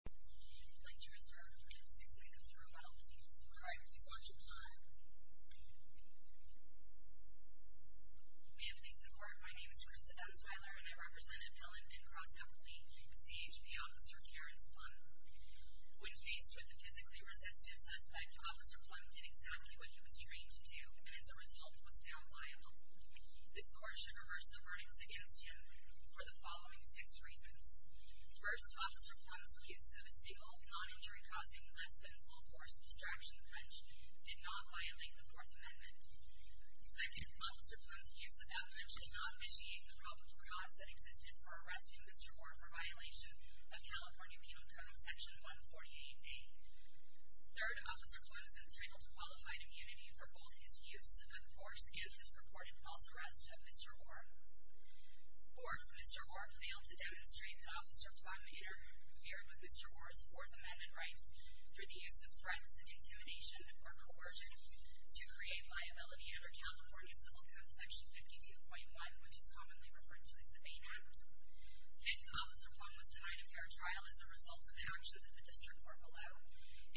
We have faced the court. My name is Krista Emsweiler, and I represent Appellant Ben Cross-Appley with CHP Officer Terrence Plumb. When faced with the physically resistive suspect, Officer Plumb did exactly what he was trained to do, and as a result was found liable. This court should reverse the verdicts against him for the following six reasons. First, Officer Plumb's use of a single, non-injury-causing, less-than-full-force distraction wrench did not violate the Fourth Amendment. Second, Officer Plumb's use of that wrench did not vitiate the probable cause that existed for arresting Mr. Orr for violation of California Penal Code, Section 148b. Third, Officer Plumb is entitled to qualified immunity for both his use of force and his purported false arrest of Mr. Orr. Fourth, Mr. Orr failed to demonstrate that Officer Plumb had interfered with Mr. Orr's Fourth Amendment rights for the use of threats, intimidation, or coercion to create liability under California Civil Code, Section 52.1, which is commonly referred to as the Bain Act. Fifth, Officer Plumb was denied a fair trial as a result of the actions of the District Court below.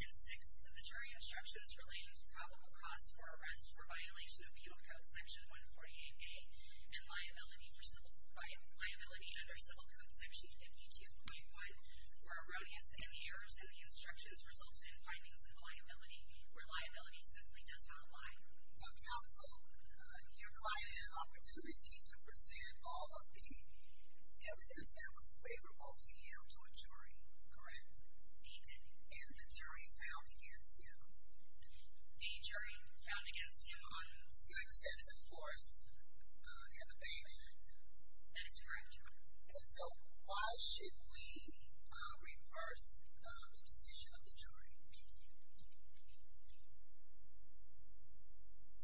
And sixth, the jury instructions relating to probable cause for arrest for violation of Penal Code, Section 148a and liability under Civil Code, Section 52.1 were erroneous, and the errors in the instructions resulted in findings of liability where liability simply does not lie. So counsel, your client had an opportunity to present all of the evidence that was favorable to him to a jury, correct? He did. And the jury found against him? The jury found against him on... The extensive force in the Bain Act? That is correct. And so, why should we reverse the position of the jury?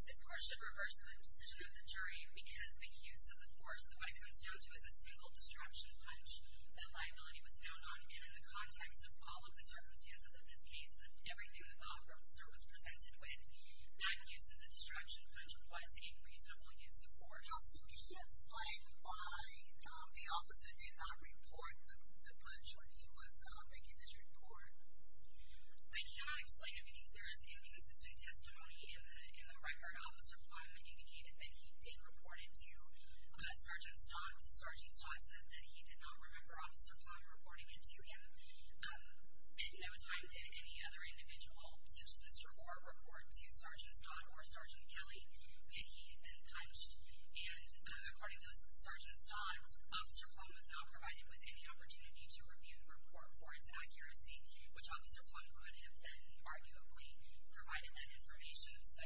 This court should reverse the decision of the jury because the use of the force, what it comes down to is a single destruction punch that liability was found on, and in the context of all of the circumstances of this case and everything that the officer was presented with, that use of the destruction punch was a reasonable use of force. Counsel, can you explain why the officer did not report the punch when he was making this report? I cannot explain it because there is inconsistent testimony in the record. Officer Plum indicated that he did report it to Sergeant Stott. Sergeant Stott says that he did not remember Officer Plum reporting it to him. And no time did any other individual, such as Mr. Orr, report to Sergeant Stott or Sergeant Kelly that he had been punched. And according to Sergeant Stott, Officer Plum was not provided with any opportunity to review the report for its accuracy, which Officer Plum could have then arguably provided that information. So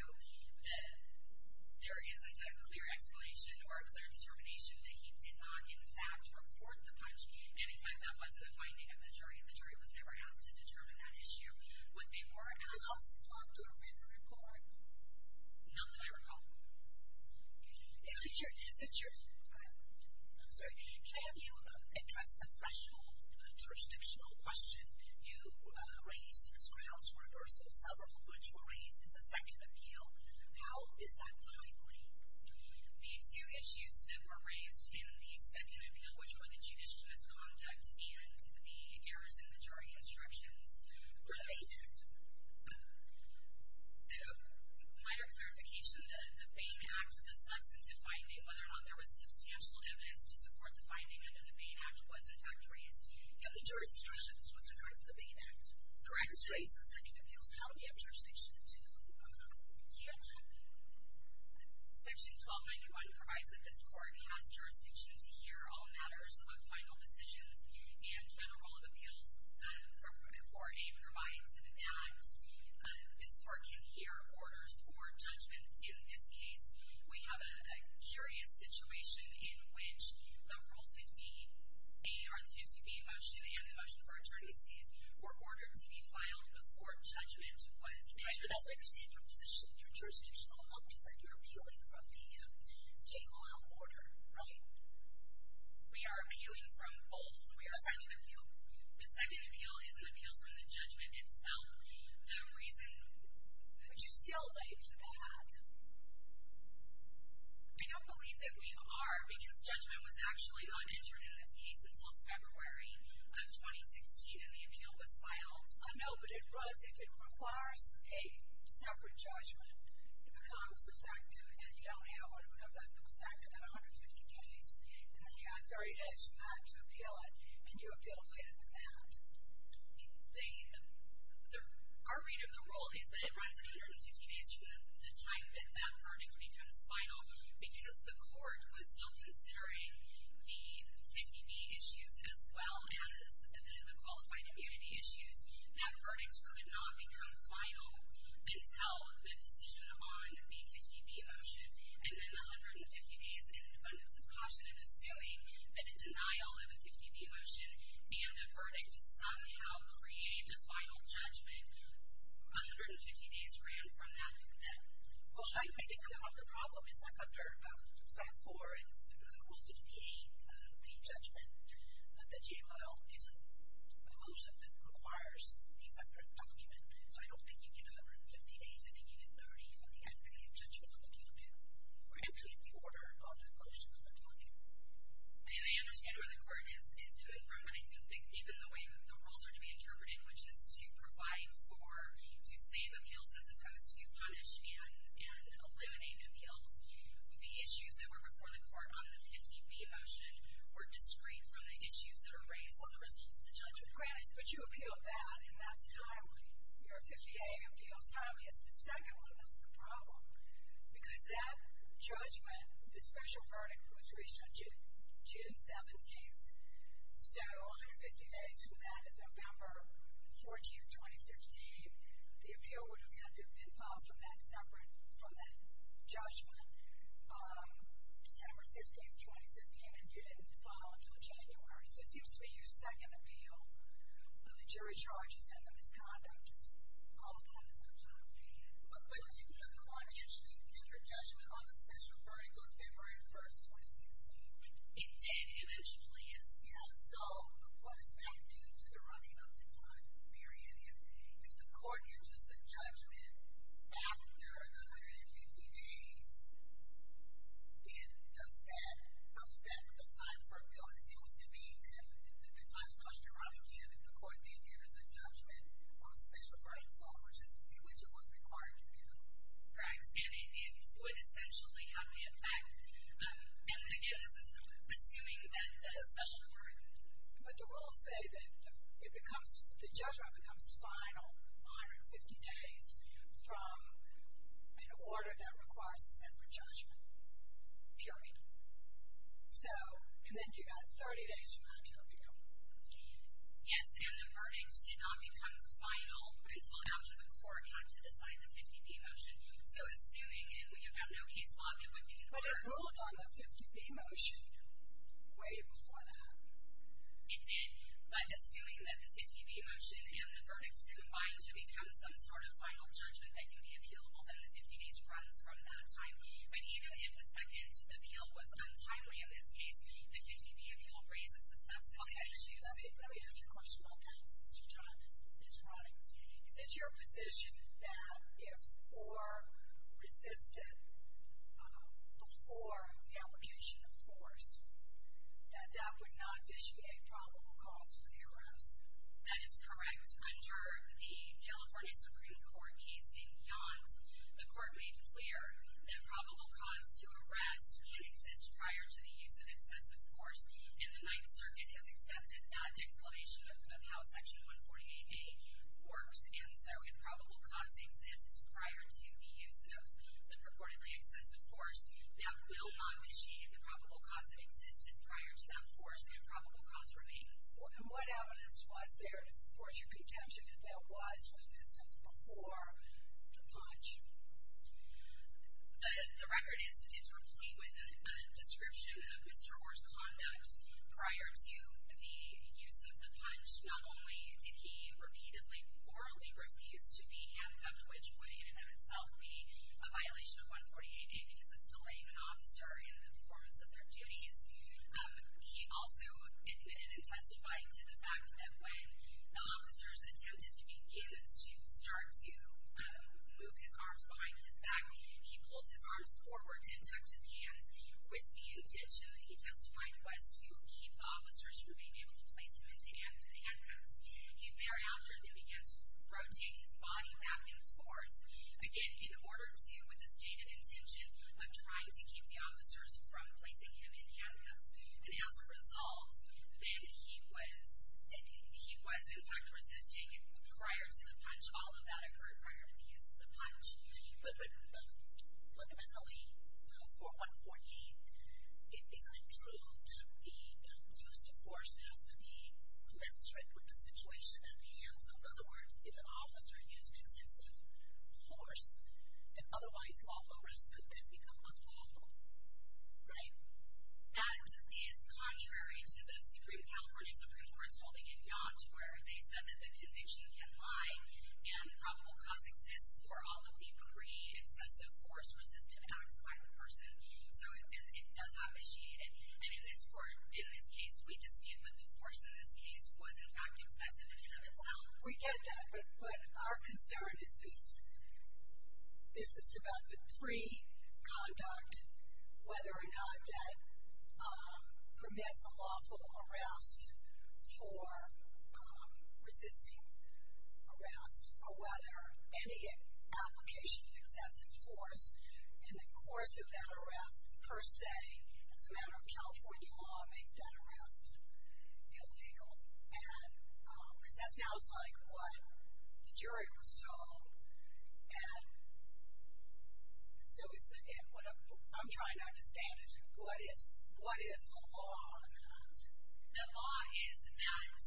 there is a clear explanation or a clear determination that he did not, in fact, report the punch. And, in fact, that wasn't a finding of the jury, and the jury was never asked to determine that issue. What they were asked... Did Officer Plum do a written report? Not that I recall. I'm sorry. Can I have you address the threshold jurisdictional question? You raised six grounds for reversal, several of which were raised in the second appeal. How is that likely? The two issues that were raised in the second appeal, which were the judicial misconduct and the errors in the jury instructions, were the main act. Minor clarification, the Bain Act, the substantive finding, whether or not there was substantial evidence to support the finding under the Bain Act, was, in fact, raised. Yeah, the jurisdiction was reserved for the Bain Act. Correct. In the case of the second appeals, how do we have jurisdiction to hear that? Section 1291 provides that this Court has jurisdiction to hear all matters of final decisions and federal rule of appeals for a provisional act. This Court can hear orders or judgments. In this case, we have a curious situation in which the Rule 15a or the 15b motion and the motion for attorneys fees were ordered to be filed before judgment was made. As I understand your position, your jurisdictional option is that you're appealing from the Jane Oyl order, right? We are appealing from both. The second appeal is an appeal from the judgment itself. The reason... Would you still believe that? I don't believe that we are, because judgment was actually not entered in this case until February of 2016, and the appeal was filed. I know, but it was. If it requires a separate judgment, it becomes effective. And you don't have one of those exact 150 days, and then you have 30 days from that to appeal it, and you appeal later than that. Our read of the Rule is that it runs 150 days from the time that that verdict becomes final, because the Court was still considering the 50b issues as well as the qualified immunity issues. That verdict could not become final until the decision on the 50b motion, and then 150 days and an abundance of caution in assuming that a denial of a 50b motion and a verdict somehow create a final judgment. 150 days ran from that to then. Well, I think part of the problem is that under Stat. 4 and through Rule 58, the judgment, the JML, is a motion that requires a separate document. So I don't think you get 150 days, I think you get 30 from the entity of judgment on the appeal, or actually the order on the motion of the appeal. I understand where the Court is coming from, and I think even the way that the rules are to be interpreted, which is to provide for, to save appeals as opposed to punish and eliminate appeals, the issues that were before the Court on the 50b motion were discreet from the issues that are raised as a result of the judgment. Right, but you appeal that, and that's timely. Your 50a appeal is timely. It's the second one that's the problem, because that judgment, the special verdict was reached on June 17th, so 150 days from that is November 14th, 2015. The appeal would have had to have been filed from that judgment December 15th, 2015, and you didn't file until January. So it seems to me your second appeal, the jury charges and the misconduct, all of that is not timely. But didn't the Court actually get your judgment on the special verdict on February 1st, 2016? It did, eventually, yes. Yeah, so what is that due to the running of the time period? If the Court enters the judgment after the 150 days, then does that affect the time for an appeal? It seems to me that the time starts to run again if the Court then enters a judgment on a special verdict, which is in which it was required to do. Right, and it would essentially have the effect. And, again, this is assuming that a special court... But do we all say that the judgment becomes final on 150 days from an order that requires a separate judgment period? So, and then you've got 30 days from that time period. Yes, and the verdict did not become final until after the Court had to decide the 50-D motion. So, assuming, and we have had no case law that would... But it ruled on the 50-D motion way before that. It did, but assuming that the 50-D motion and the verdict combined to become some sort of final judgment that could be appealable, then the 50 days runs from that time. But even if the second appeal was untimely, in this case, the 50-D appeal raises the substantive issue. Let me ask you a question while time is running. Is it your position that if Orr resisted before the application of force, that that would not issue a probable cause for the arrest? That is correct. Under the California Supreme Court case in Yonds, the Court made clear that probable cause to arrest could exist prior to the use of excessive force. And the Ninth Circuit has accepted that explanation of how Section 148A works. And so, if probable cause exists prior to the use of the purportedly excessive force, that will not issue the probable cause that existed prior to that force. The improbable cause remains. And what evidence was there to support your contention that there was resistance before the punch? The record is complete with a description of Mr. Orr's conduct prior to the use of the punch. Not only did he repeatedly orally refuse to be handcuffed, which would in and of itself be a violation of 148A because it's delaying an officer in the performance of their duties, he also admitted and testified to the fact that when officers attempted to begin to start to move his arms behind his back, he pulled his arms forward and tucked his hands, with the intention that he testified was to keep the officers from being able to place him in handcuffs. Thereafter, they began to rotate his body back and forth, again, in order to, with the stated intention of trying to keep the officers from placing him in handcuffs. And as a result, then he was, in fact, resisting prior to the punch. All of that occurred prior to the use of the punch. But fundamentally, for 148, it isn't true that the use of force has to be commensurate with the situation at hand. So, in other words, if an officer used excessive force, an otherwise lawful risk could then become unlawful. Right? That is contrary to the Supreme Court holding it not, where they said that the conviction can lie and probable cause exists for all of the pre-excessive force resisted acts by the person. So, it does not initiate it. And in this court, in this case, we dispute that the force in this case was, in fact, excessive in and of itself. We get that. But our concern is just about the pre-conduct, whether or not that permits a lawful arrest for resisting arrest, or whether any application of excessive force in the course of that arrest, per se, as a matter of California law, makes that arrest illegal. Because that sounds like what the jury was told. So, what I'm trying to understand is, what is the law on that? The law is that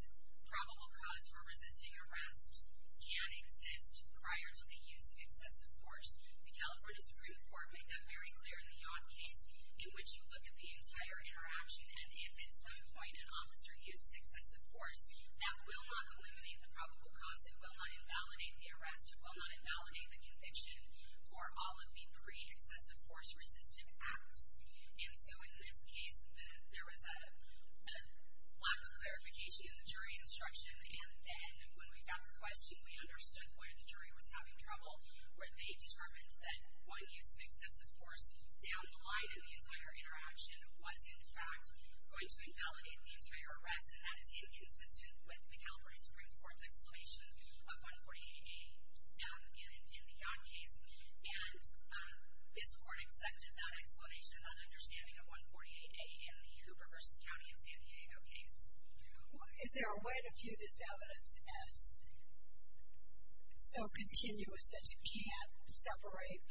probable cause for resisting arrest can exist prior to the use of excessive force. The California Supreme Court made that very clear in the Yacht case, in which you look at the entire interaction, and if at some point an officer used excessive force, that will not eliminate the probable cause. It will not invalidate the arrest. It will not invalidate the conviction for all of the three excessive force resistive acts. And so, in this case, there was a lack of clarification in the jury instruction. And then, when we got the question, we understood where the jury was having trouble, where they determined that one use of excessive force down the line in the entire interaction was, in fact, going to invalidate the entire arrest. And that is inconsistent with the California Supreme Court's explanation of 148A in the Yacht case. And this court accepted that explanation and understanding of 148A in the Hoover v. County of San Diego case. Is there a way to view this evidence as so continuous that you can't separate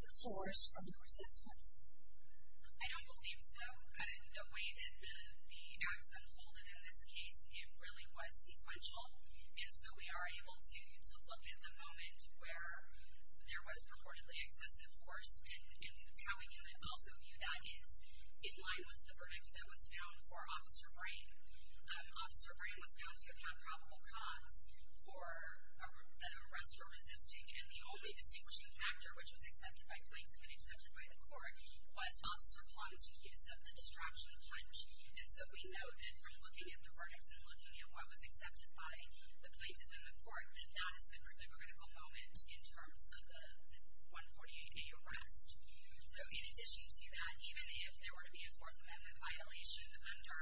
the force from the resistance? I don't believe so. The way that the acts unfolded in this case, it really was sequential. And so, we are able to look in the moment where there was purportedly excessive force, and how we can also view that is in line with the verdict that was found for Officer Brain. Officer Brain was found to have had probable cause for an arrest for resisting, and the only distinguishing factor, which was accepted by plaintiff and accepted by the court, was Officer Plum's use of the distraction punch. And so, we know that from looking at the verdicts and looking at what was accepted by the plaintiff and the court, that that is the critical moment in terms of the 148A arrest. So, in addition to that, even if there were to be a Fourth Amendment violation under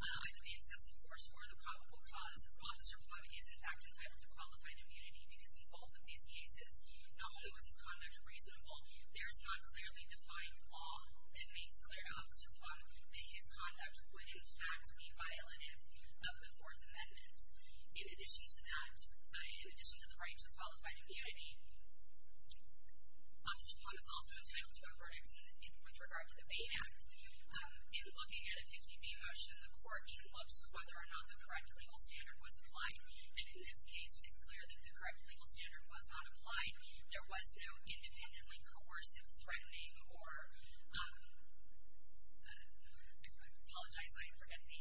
either the excessive force or the probable cause, Officer Plum is, in fact, entitled to qualifying immunity, because in both of these cases, not only was his conduct reasonable, there is not clearly defined law that makes clear to Officer Plum that his conduct would, in fact, be violative of the Fourth Amendment. In addition to that, in addition to the right to qualify to be ID, Officer Plum is also entitled to a verdict with regard to the Bain Act. In looking at a 50B motion, the court looks at whether or not the correct legal standard was applied, and in this case, it's clear that the correct legal standard was not applied. There was no independently coercive threatening or, I apologize, I forget the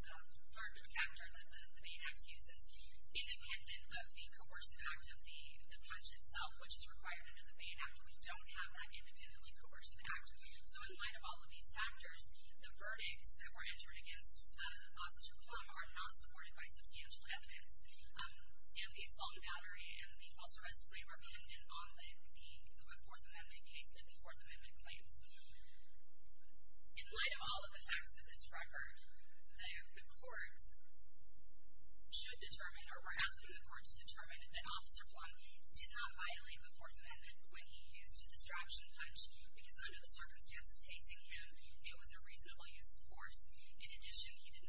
verdict factor that the Bain Act uses. Independent of the coercive act of the punch itself, which is required under the Bain Act, we don't have that independently coercive act. So, in light of all of these factors, the verdicts that were entered against Officer Plum are not supported by substantial evidence, and the assault battery and the false arrest claim are pinned in on the Fourth Amendment case and the Fourth Amendment claims. In light of all of the facts of this record, the court should determine, or we're asking the court to determine that Officer Plum did not violate the Fourth Amendment when he used a distraction punch, because under the circumstances facing him, it was a reasonable use of force. In addition, he had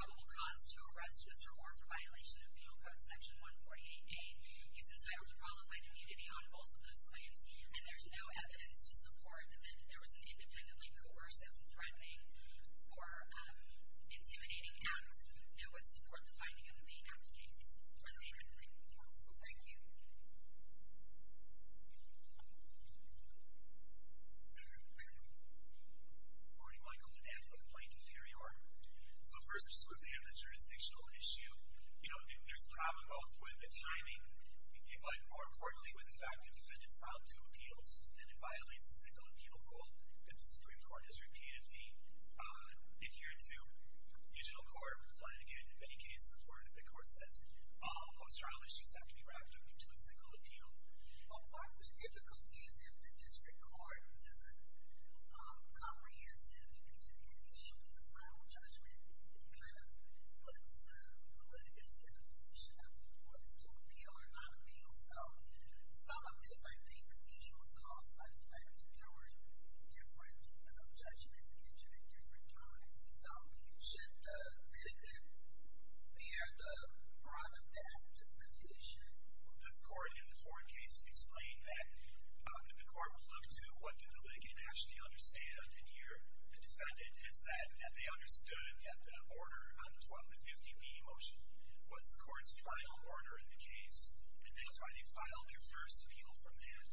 probable cause to arrest Mr. Orr for violation of Penal Code Section 148A. He's entitled to qualified immunity on both of those claims, and there's no evidence to support that there was an independently coercive threatening or intimidating act that would support the finding of the Bain Act case. So, thank you. Morning, Michael. Dan from Plainton, New York. So, first, just quickly on the jurisdictional issue. You know, there's a problem both with the timing, but more importantly, with the fact that defendants filed two appeals, and it violates the single and penal rule that the Supreme Court has repeatedly adhered to. The Judicial Court, again, in many cases, where the court says all post-trial issues have to be wrapped up into a single appeal. Well, part of the difficulty is if the district court is comprehensive and can issue the final judgment, it kind of puts the litigants in a position of whether to appeal or not appeal. So, some of this, I think, confusion was caused by the fact that there were different judgments issued at different times. So, you should let them bear the brunt of that confusion. This court, in the Ford case, explained that the court would look to what did the litigant actually understand. And here, the defendant has said that they understood that the order on the 1250B motion was the court's final order in the case, and that's why they filed their first appeal from that.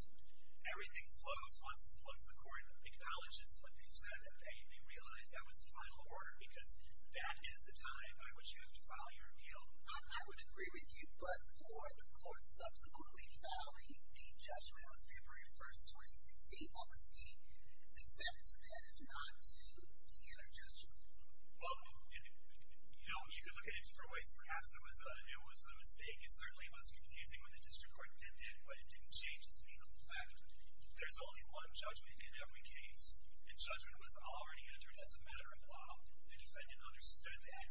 Everything flows once the court acknowledges what they said, and they realize that was the final order, because that is the time by which you have to file your appeal. I would agree with you, but for the court subsequently filing the judgment on February 1, 2016, what was the effect of that if not to de-interjudge it? Well, you know, you could look at it in different ways. Perhaps it was a mistake. It certainly was confusing when the district court did it, but it didn't change the legal effect. There's only one judgment in every case, and judgment was already entered as a matter of law. The defendant understood that.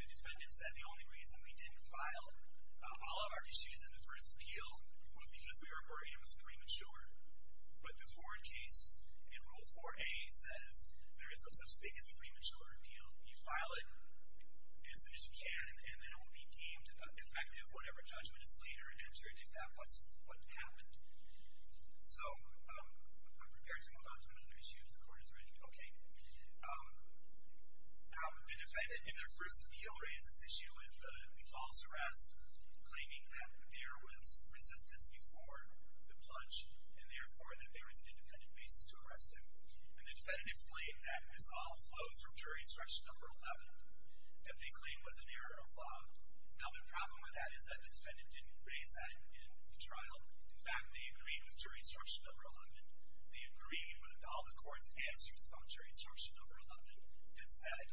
The defendant said the only reason we didn't file all of our issues in the first appeal was because we were worried it was premature. But the Ford case, in Rule 4A, says there is no such thing as a premature appeal. You file it as soon as you can, and then it will be deemed effective whatever judgment is later entered, if that was what happened. So I'm prepared to move on to another issue if the court is ready. Okay. The defendant, in their first appeal, raises this issue with the false arrest, claiming that there was resistance before the plunge, and therefore that there was an independent basis to arrest him. And the defendant explained that this all flows from jury stretch number 11 that they claim was an error of law. Now the problem with that is that the defendant didn't raise that in the trial. In fact, they agreed with jury instruction number 11. They agreed with all the court's answers about jury instruction number 11 and said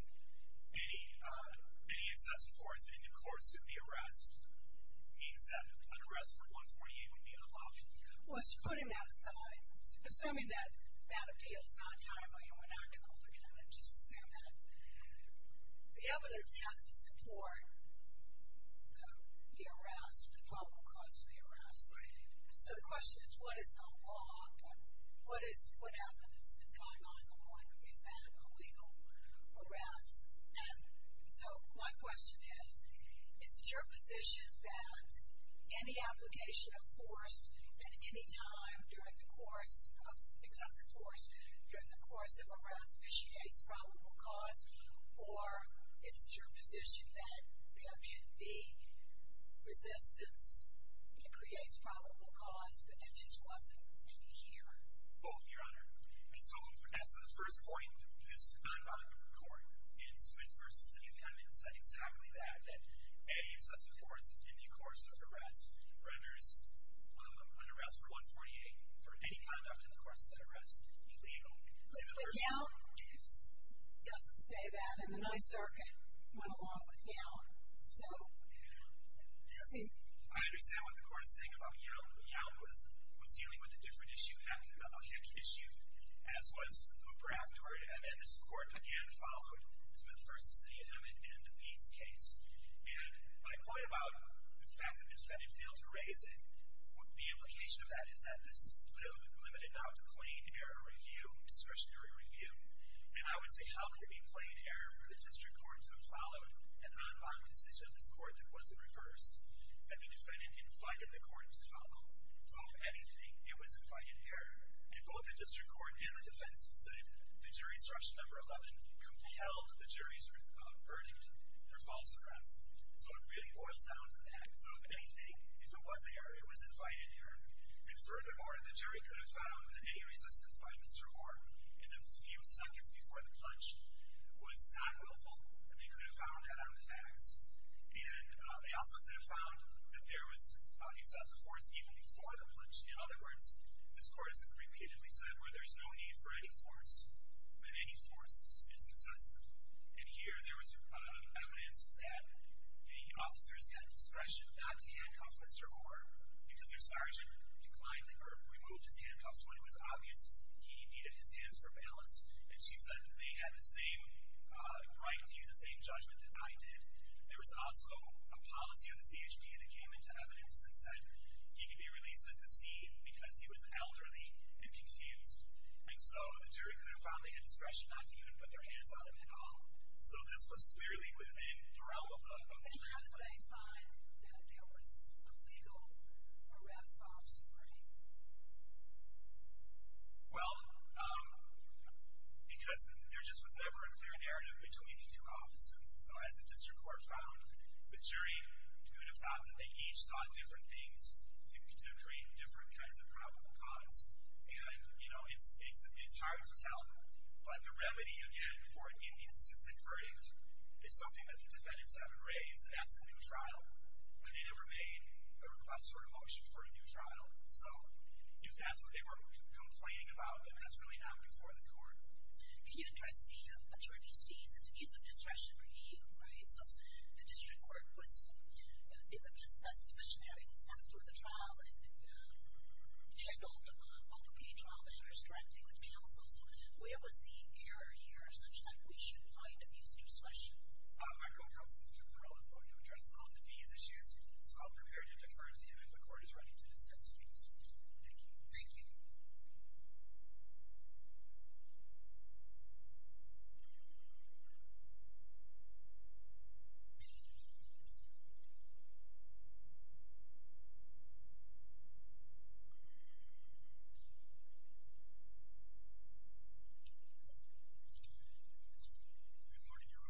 any excessive force in the courts in the arrest means that an arrest for 148 would be an option. Well, putting that aside, assuming that that appeal is not a time or human article, I'm going to just assume that the evidence has to support the arrest, the probable cause for the arrest. So the question is, what is the law? What evidence is going on? Is that a legal arrest? And so my question is, is it your position that any application of force at any time during the course, excessive force during the course of arrest, initiates probable cause, or is it your position that the resistance, it creates probable cause, but that just wasn't in the hearing? Both, Your Honor. And so that's the first point. This time by the court, in Smith v. Sinutana, it said exactly that, that any excessive force in the course of arrest renders an arrest for 148 for any conduct in the course of that arrest illegal. But Young doesn't say that, and the NYSERDA went along with Young, so. I understand what the court is saying about Young. Young was dealing with a different issue, a Hick issue, as was Hooper afterward, and then this court again followed Smith v. Sinutana in DePete's case. And my point about the fact that the defendant failed to raise it, the implication of that is that this limited not to plain error review, and I would say how could it be plain error for the district court to have followed a non-bond decision of this court that wasn't reversed, that the defendant invited the court to follow? So if anything, it was infighting error, and both the district court and the defense said the jury's rush number 11 compelled the jury's verdict for false arrests. So it really boils down to that. So if anything, if it was error, it was infighting error. And furthermore, the jury could have found that any resistance by Mr. Orr in the few seconds before the punch was not willful, and they could have found that on the facts, and they also could have found that there was excessive force even before the punch. In other words, this court has repeatedly said where there's no need for any force, that any force is excessive. And here there was evidence that the officers had discretion not to handcuff Mr. Orr because their sergeant declined or removed his handcuffs when it was obvious he needed his hands for balance, and she said they had the same right to use the same judgment that I did. There was also a policy of the ZHP that came into evidence that said he could be released at the scene because he was elderly and confused. And so the jury could have found that he had discretion not to even put their hands on him at all. So this was clearly within the realm of the district court. And how could they find that there was a legal arrest officer, Ray? Well, because there just was never a clear narrative between the two officers, and so as the district court found, the jury could have found that they each saw different things to create different kinds of probable cause. And, you know, it's hard to tell, but the remedy, again, for inconsistent verdict is something that the defendants have in Ray, and that's a new trial, where they never made a request for a motion for a new trial. So if that's what they were complaining about, then that's really not before the court. Can you address the attorney's fees and the use of discretion for you? Right? So the district court was in the best position there except with the trial and handled multi-pay trial and restricting with counsel. So where was the error here such that we should find abuse, use, and discretion? Our counsel through the trial is going to address all of these issues, so I'll prepare to defer to him if the court is ready to discuss fees. Thank you. Thank you. Good morning, Your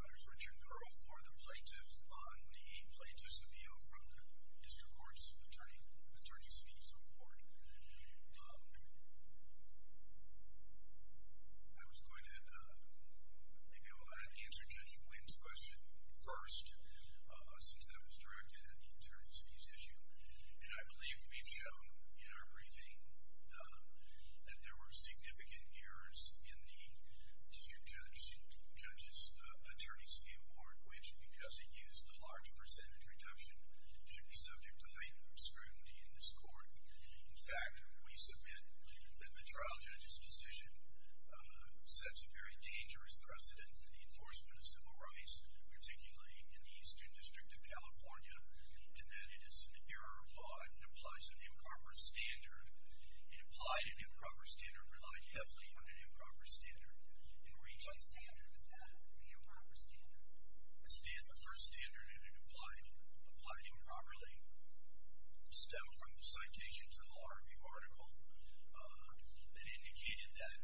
Honors. Richard Curl for the plaintiff on the plaintiff's appeal from the district court's attorney's fees report. I was going to go ahead and answer Judge Wynn's question first since that was directed at the attorney's fees issue, and I believe we've shown in our briefing that there were significant errors in the district judge's attorney's fee report, which, because it used a large percentage reduction, should be subject to heightened scrutiny in this court. In fact, we submit that the trial judge's decision sets a very dangerous precedent for the enforcement of civil rights, particularly in the Eastern District of California, in that it is an error applied and applies an improper standard. It applied an improper standard, relied heavily on an improper standard, and reached a standard. What standard is that, the improper standard? The first standard, and it applied improperly, stemmed from the citation to the law review article that indicated that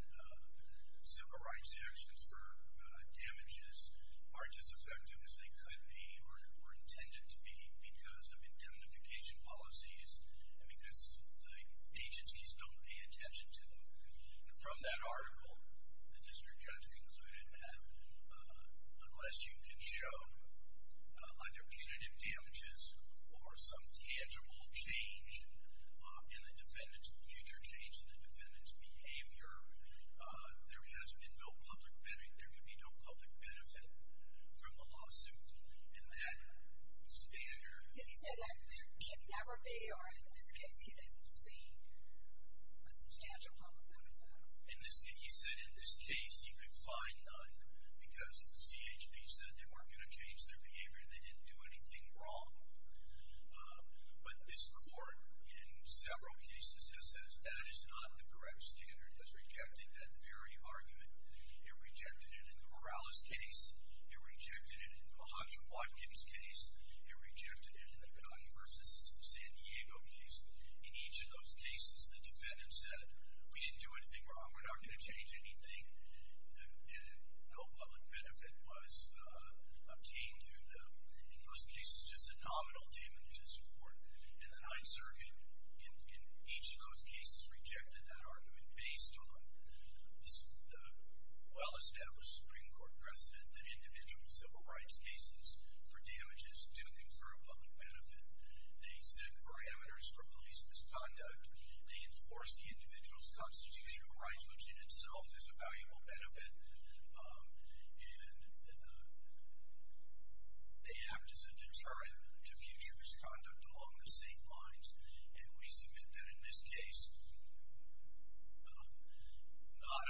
civil rights actions for damages aren't as effective as they could be or were intended to be because of indemnification policies and because the agencies don't pay attention to them. And from that article, the district judge concluded that unless you can show either punitive damages or some tangible change in the defendant's future change, in the defendant's behavior, there has been no public benefit. From the lawsuit. And that standard... He said that there can never be, or in this case, he didn't see a substantial public benefit. He said in this case you could find none because the CHP said they weren't going to change their behavior, they didn't do anything wrong. But this court, in several cases, has said that is not the correct standard, has rejected that very argument. It rejected it in the Morales case, it rejected it in the Mahatma Watkins case, it rejected it in the Connie v. San Diego case. In each of those cases, the defendant said, we didn't do anything wrong, we're not going to change anything, and no public benefit was obtained through them. In those cases, just the nominal damages court and the Ninth Circuit, in each of those cases, has rejected that argument based on the well-established Supreme Court precedent that individual civil rights cases for damages do confer a public benefit. They set parameters for police misconduct, they enforce the individual's constitutional rights, which in itself is a valuable benefit, and they act as a deterrent to future misconduct along the same lines. And we submit that in this case, not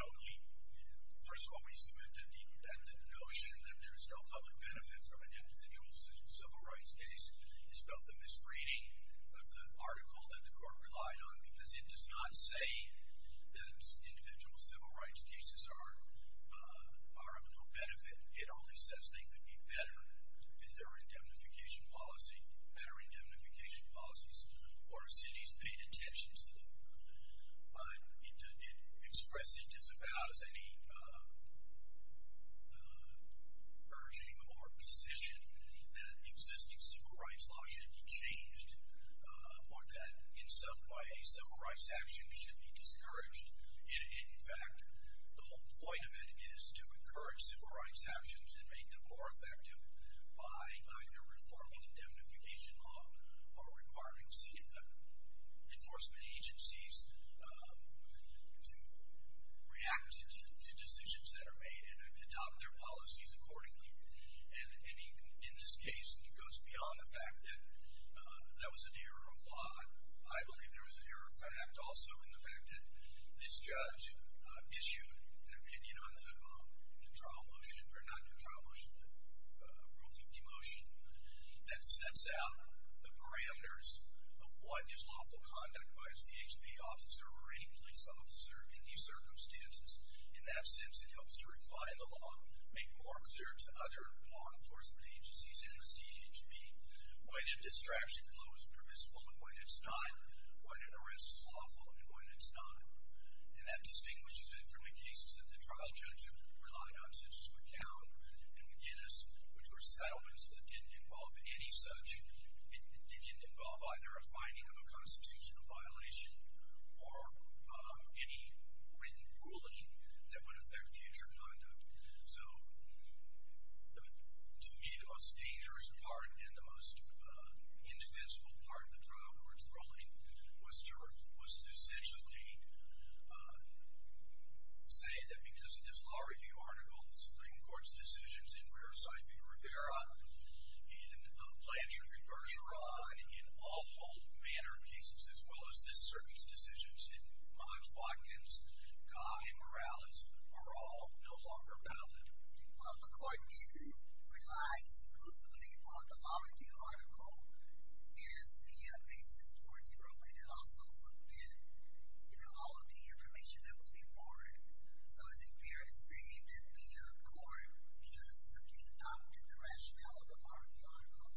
only... First of all, we submit that the notion that there's no public benefit from an individual civil rights case is both a misreading of the article that the court relied on, because it does not say that individual civil rights cases are of no benefit. It only says they could be better if there were indemnification policies. Better indemnification policies, or if cities paid attention to them. But it expressly disavows any urging or position that existing civil rights law should be changed, or that in some way civil rights actions should be discouraged. In fact, the whole point of it is to encourage civil rights actions and make them more effective by either reforming indemnification law or requiring enforcement agencies to react to decisions that are made and adopt their policies accordingly. And in this case, it goes beyond the fact that that was an error of law. I believe there was an error of fact also in the fact that this judge issued an opinion on the trial motion or not the trial motion, the Rule 50 motion, that sets out the parameters of what is lawful conduct by a CHB officer or any police officer in these circumstances. In that sense, it helps to refine the law, make more clear to other law enforcement agencies in the CHB when a distraction blow is permissible and when it's not, when an arrest is lawful and when it's not. And that distinguishes it from the cases that the trial judge relied on such as McCown and McGinnis, which were settlements that didn't involve any such, it didn't involve either a finding of a constitutional violation or any written ruling that would affect future conduct. So to me, the most dangerous part and the most indefensible part of the trial court's ruling was to essentially say that because of this law review article, the Supreme Court's decisions in Rearside v. Rivera and Plaintiff v. Bergeron in all whole manner of cases as well as this circuit's decisions in Mott's, Watkins, Guy, Morales are all no longer valid. McCourt didn't rely exclusively on the law review article as the basis for its ruling. It also looked at all of the information that was before it. So is it fair to say that the court just adopted the rationale of the law review article?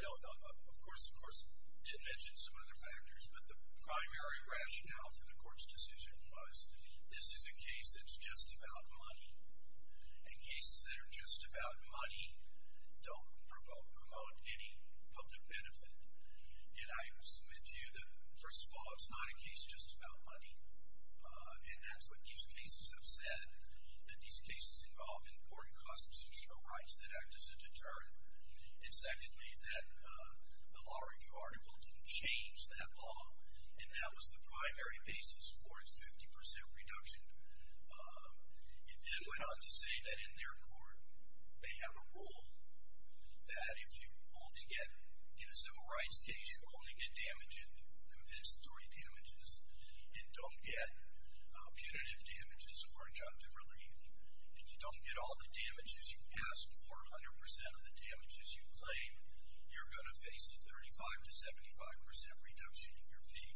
No, of course it did mention some other factors, but the primary rationale for the court's decision was this is a case that's just about money, and cases that are just about money don't promote any public benefit. And I submit to you that, first of all, it's not a case just about money, and that's what these cases have said, that these cases involve important customs and show rights that act as a deterrent. And secondly, that the law review article didn't change that law, and that was the primary basis for its 50% reduction. It then went on to say that in their court, they have a rule that if you only get, in a civil rights case, you only get compensatory damages, and don't get punitive damages or injunctive relief, and you don't get all the damages you asked for, 100% of the damages you claim, you're going to face a 35% to 75% reduction in your fee.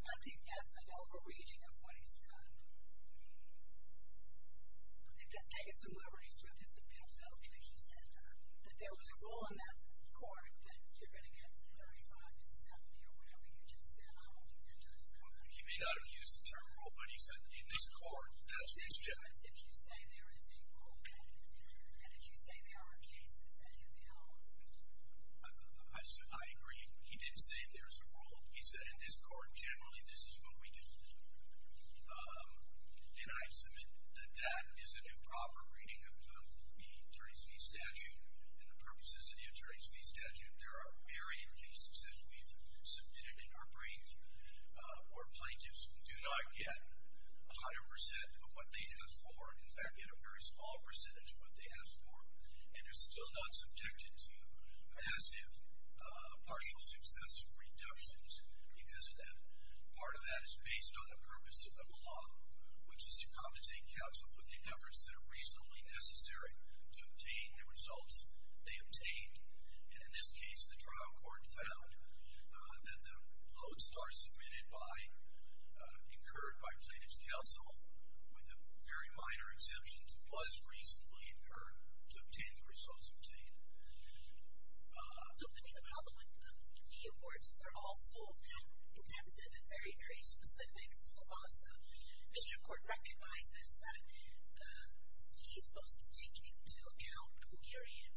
I think that's an overreaching of what he's said. I think that's taking some liberties with it, that Bill Fletcher said that there was a rule in that court that you're going to get 35% to 70% or whatever you just said. I don't think that does matter. He may not have used the term rule, but he said in this court, that's what he said. It's as if you say there is a court rule, and as you say there are cases that have held. I agree. He didn't say there's a rule. He said in this court, generally, this is what we do. And I submit that that is an improper reading of the attorney's fee statute, and the purposes of the attorney's fee statute, there are varying cases that we've submitted in our brief, where plaintiffs do not get 100% of what they asked for, in fact, get a very small percentage of what they asked for, and are still not subjected to massive partial success reductions because of that. Part of that is based on the purpose of the law, which is to compensate counsel for the efforts that are reasonably necessary to obtain the results they obtained. And in this case, the trial court found that the lodestar submitted by, incurred by plaintiff's counsel, with very minor exemptions, was reasonably incurred to obtain the results obtained. So many of the public fee awards are also intensive and very, very specific. Mr. Court recognizes that he's supposed to take into account the varying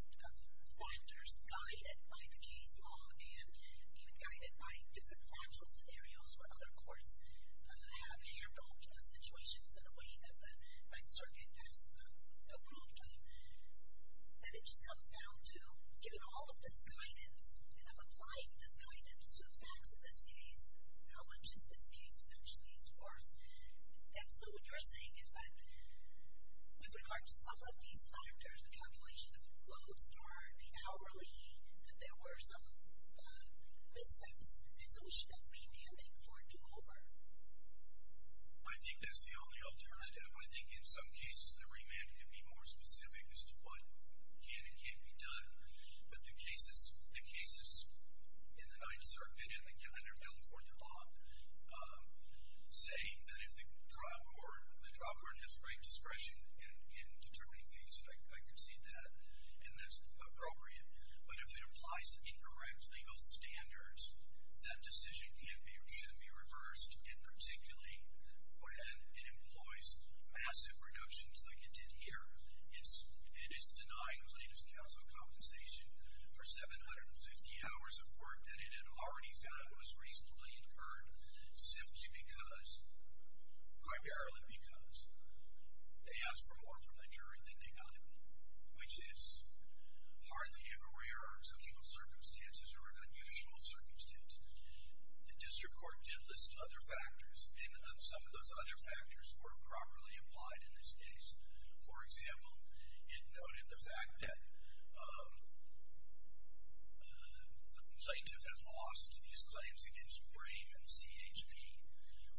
factors guided by the case law, and even guided by different factual scenarios where other courts have handled the situations in a way that the right circuit has no proof to. And it just comes down to, given all of this guidance, and I'm applying this guidance to the facts of this case, how much is this case essentially worth? And so what you're saying is that, with regard to some of these factors, the calculation of the loads are the hourly, that there were some missteps, and so we should get remanding for do-over. I think that's the only alternative. I think in some cases the remand could be more specific as to what can and can't be done. But the cases in the Ninth Circuit, under California law, say that if the trial court has great discretion in determining fees, I concede that, and that's appropriate. But if it applies incorrect legal standards, that decision should be reversed, and particularly when it employs massive reductions like it did here. It is denying the latest council compensation for 750 hours of work that it had already found was reasonably incurred, simply because, primarily because, they asked for more from the jury than they got, which is hardly a rare or exceptional circumstance, or an unusual circumstance. The district court did list other factors, and some of those other factors were properly applied in this case. For example, it noted the fact that the plaintiff has lost his claims against Brayman CHP.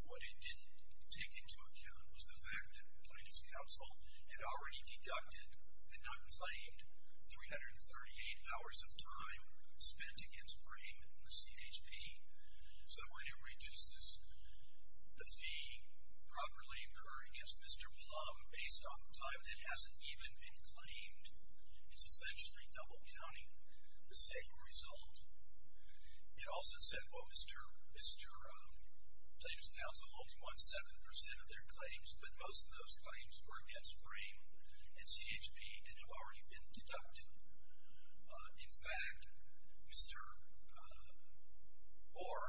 What it didn't take into account was the fact that the plaintiff's counsel had already deducted and not claimed 338 hours of time spent against Brayman CHP. So when it reduces the fee properly incurred against Mr. Plumb, based on time that hasn't even been claimed, it's essentially double-counting the same result. It also said, well, Mr. Plumb's counsel only won 7% of their claims, but most of those claims were against Brayman CHP and have already been deducted. In fact, Mr. Orr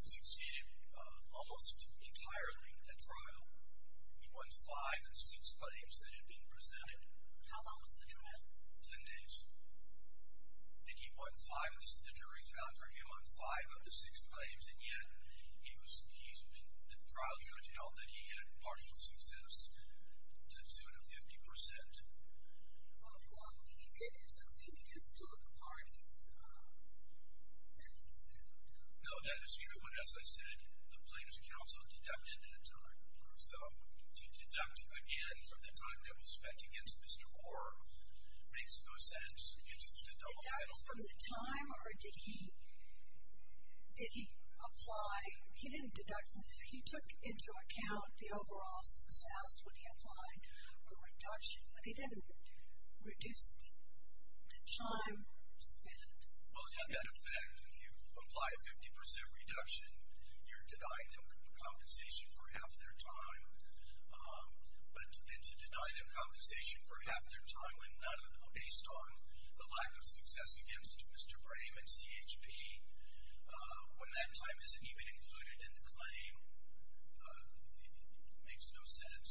succeeded almost entirely at trial. He won five of the six claims that had been presented. How long was the trial? Ten days. And he won five, the jury found for him, won five of the six claims, and yet he's been, the trial judge held that he had partial success to 250%. Mr. Plumb, he did succeed against two of the parties that he sued. No, that is true. But as I said, the plaintiff's counsel deducted at a time. So to deduct again from the time that was spent against Mr. Orr makes no sense. It's a double-dial. Did he deduct from the time or did he apply? He didn't deduct from the time. He took into account the overall status when he applied a reduction, but he didn't reduce the time spent. Well, to that effect, if you apply a 50% reduction, you're denying them compensation for half their time. And to deny them compensation for half their time based on the lack of success against Mr. Brayman CHP when that time isn't even included in the claim makes no sense. Do we have anybody else? We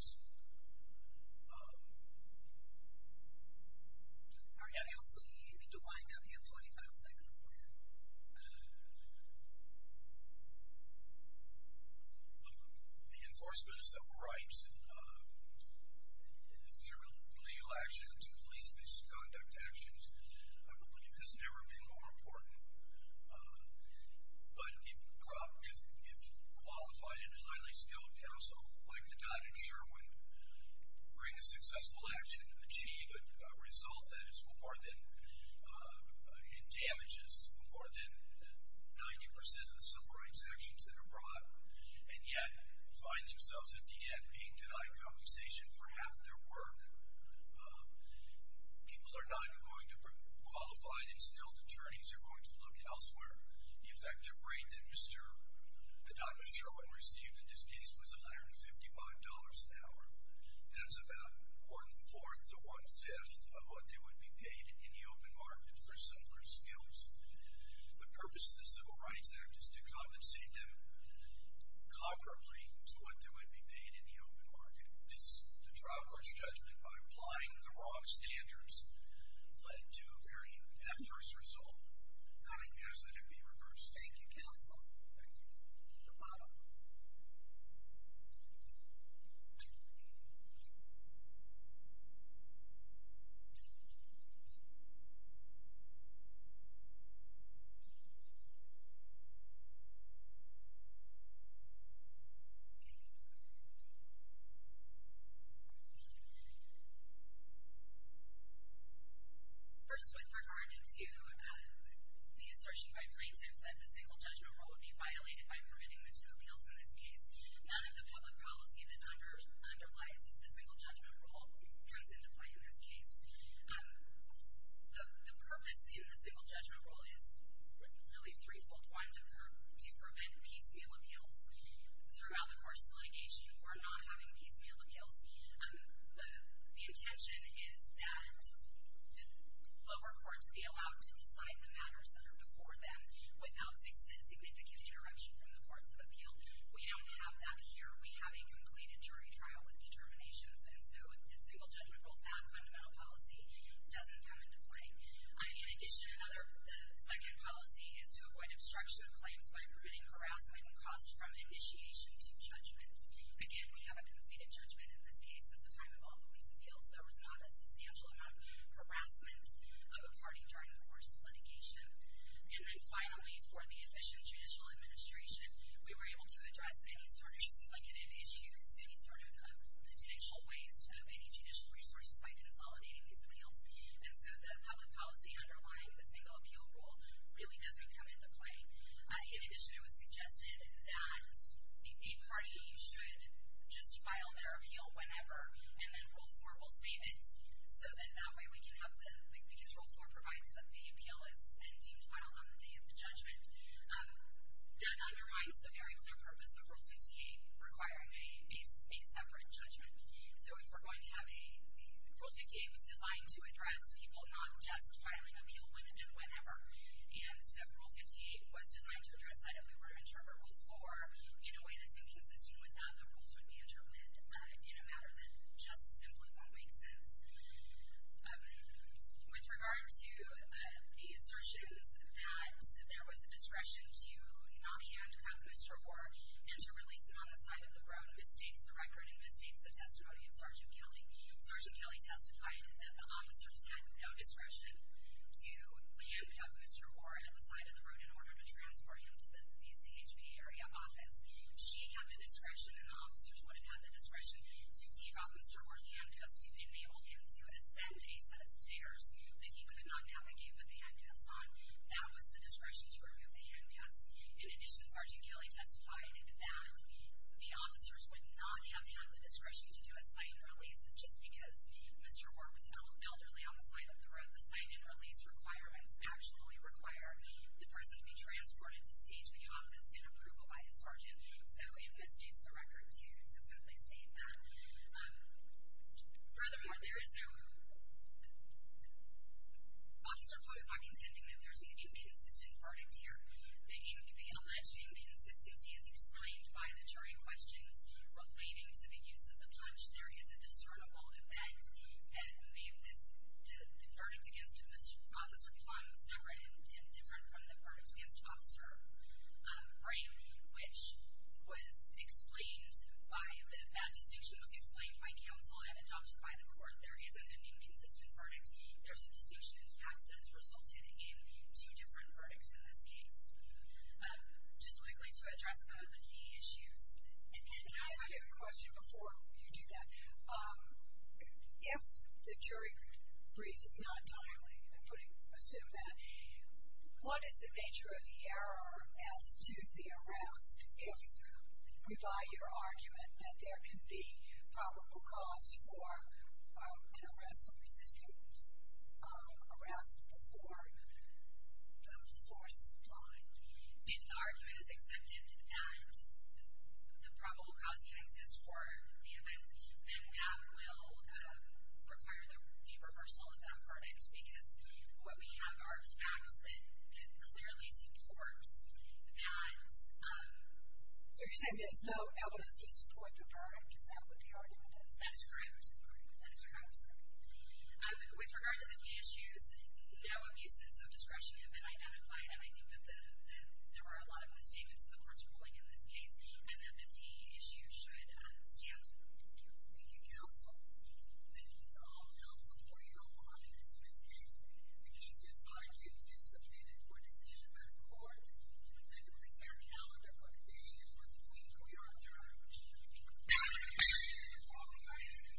need to wind up. You have 25 seconds left. The enforcement of civil rights, if there's a legal action to police misconduct actions, I believe has never been more important. But if qualified and highly skilled counsel like the guy in Sherwin bring a successful action to achieve a result that is more than and damages more than 90% of the civil rights actions that are brought and yet find themselves at the end being denied compensation for half their work, people are not going to bring qualified and skilled attorneys. They're going to look elsewhere. The effective rate that Dr. Sherwin received in his case was $155 an hour. That's about one-fourth to one-fifth of what they would be paid in the open market for similar skills. The purpose of the Civil Rights Act is to compensate them comparably to what they would be paid in the open market. The trial court's judgment by applying the wrong standards led to a very adverse result. How do you ask that it be reversed? Thank you, counsel. Thank you. The bottom row. First, with regard to the assertion by plaintiffs that the single judgment rule would be violated by permitting the two appeals in this case, none of the public policy that underlies the single judgment rule comes into play in this case. The purpose in the single judgment rule is really threefold-winded to prevent piecemeal appeals throughout the course of litigation. We're not having piecemeal appeals. The intention is that the lower courts be allowed to decide the matters that are before them without significant interruption from the courts of appeal. We don't have that here. We have a completed jury trial with determinations, and so the single judgment rule, that fundamental policy doesn't come into play. In addition, the second policy is to avoid obstruction of claims by permitting harassment and costs from initiation to judgment. Again, we have a completed judgment in this case at the time of all police appeals. There was not a substantial amount of harassment of a party during the course of litigation. And then finally, for the official judicial administration, we were able to address any sort of splicative issues, any sort of potential waste of any judicial resources by consolidating these appeals. And so the public policy underlying the single appeal rule really doesn't come into play. In addition, it was suggested that a party should just file their appeal whenever, and then Rule 4 will save it, so that that way we can have the, because Rule 4 provides that the appeal is then deemed final on the day of the judgment. That undermines the very clear purpose of Rule 58, requiring a separate judgment. So if we're going to have a, Rule 58 was designed to address people not just filing appeal when and whenever, and so Rule 58 was designed to address that if we were to interrupt Rule 4 in a way that's inconsistent with that the rules would be interrupted in a matter that just simply won't make sense. With regard to the assertions that there was a discretion to not handcuff Mr. Orr and to release him on the side of the road, it misstates the record and misstates the testimony of Sergeant Kelly. Sergeant Kelly testified that the officers had no discretion to handcuff Mr. Orr at the side of the road in order to transport him to the BCHB area office. She had the discretion and the officers would have had the discretion to take off Mr. Orr's handcuffs to enable him to ascend a set of stairs that he could not navigate with the handcuffs on. That was the discretion to remove the handcuffs. In addition, Sergeant Kelly testified that the officers would not have had the discretion to do a sign and release just because Mr. Orr was elderly on the side of the road. The sign and release requirements actually require the person to be transported to the BCHB office in approval by his sergeant, so it misstates the record to simply state that. Furthermore, Officer Plum is not contending that there's an inconsistent verdict here. In the alleged inconsistency as explained by the jury questions relating to the use of the punch, there is a discernible effect that made the verdict against Officer Plum separate and different from the verdict against Officer Plum. There is a frame which was explained by, that that distinction was explained by counsel and adopted by the court. There isn't an inconsistent verdict. There's a distinction, in fact, that has resulted in two different verdicts in this case. Just quickly to address some of the fee issues. I have a question before you do that. If the jury brief is not timely and putting, assume that, what is the nature of the error as to the arrest if we buy your argument that there can be probable cause for an arrest of resisting arrest before the force is applied? If the argument is accepted that the probable cause can exist for the offense, then that will require the reversal of that verdict, because what we have are facts that clearly support that. Are you saying there's no evidence to support your verdict? Is that what the argument is? That is correct. That is correct. With regard to the fee issues, no abuses of discretion have been identified, and I think that there are a lot of misstatements of the court's ruling in this case, and that the fee issue should stand. Thank you, counsel. Thank you to all counsel for your audience in this case. We just ask that you be submitted for decision by the court and release our calendar for the day and for the week. We are adjourned. Thank you.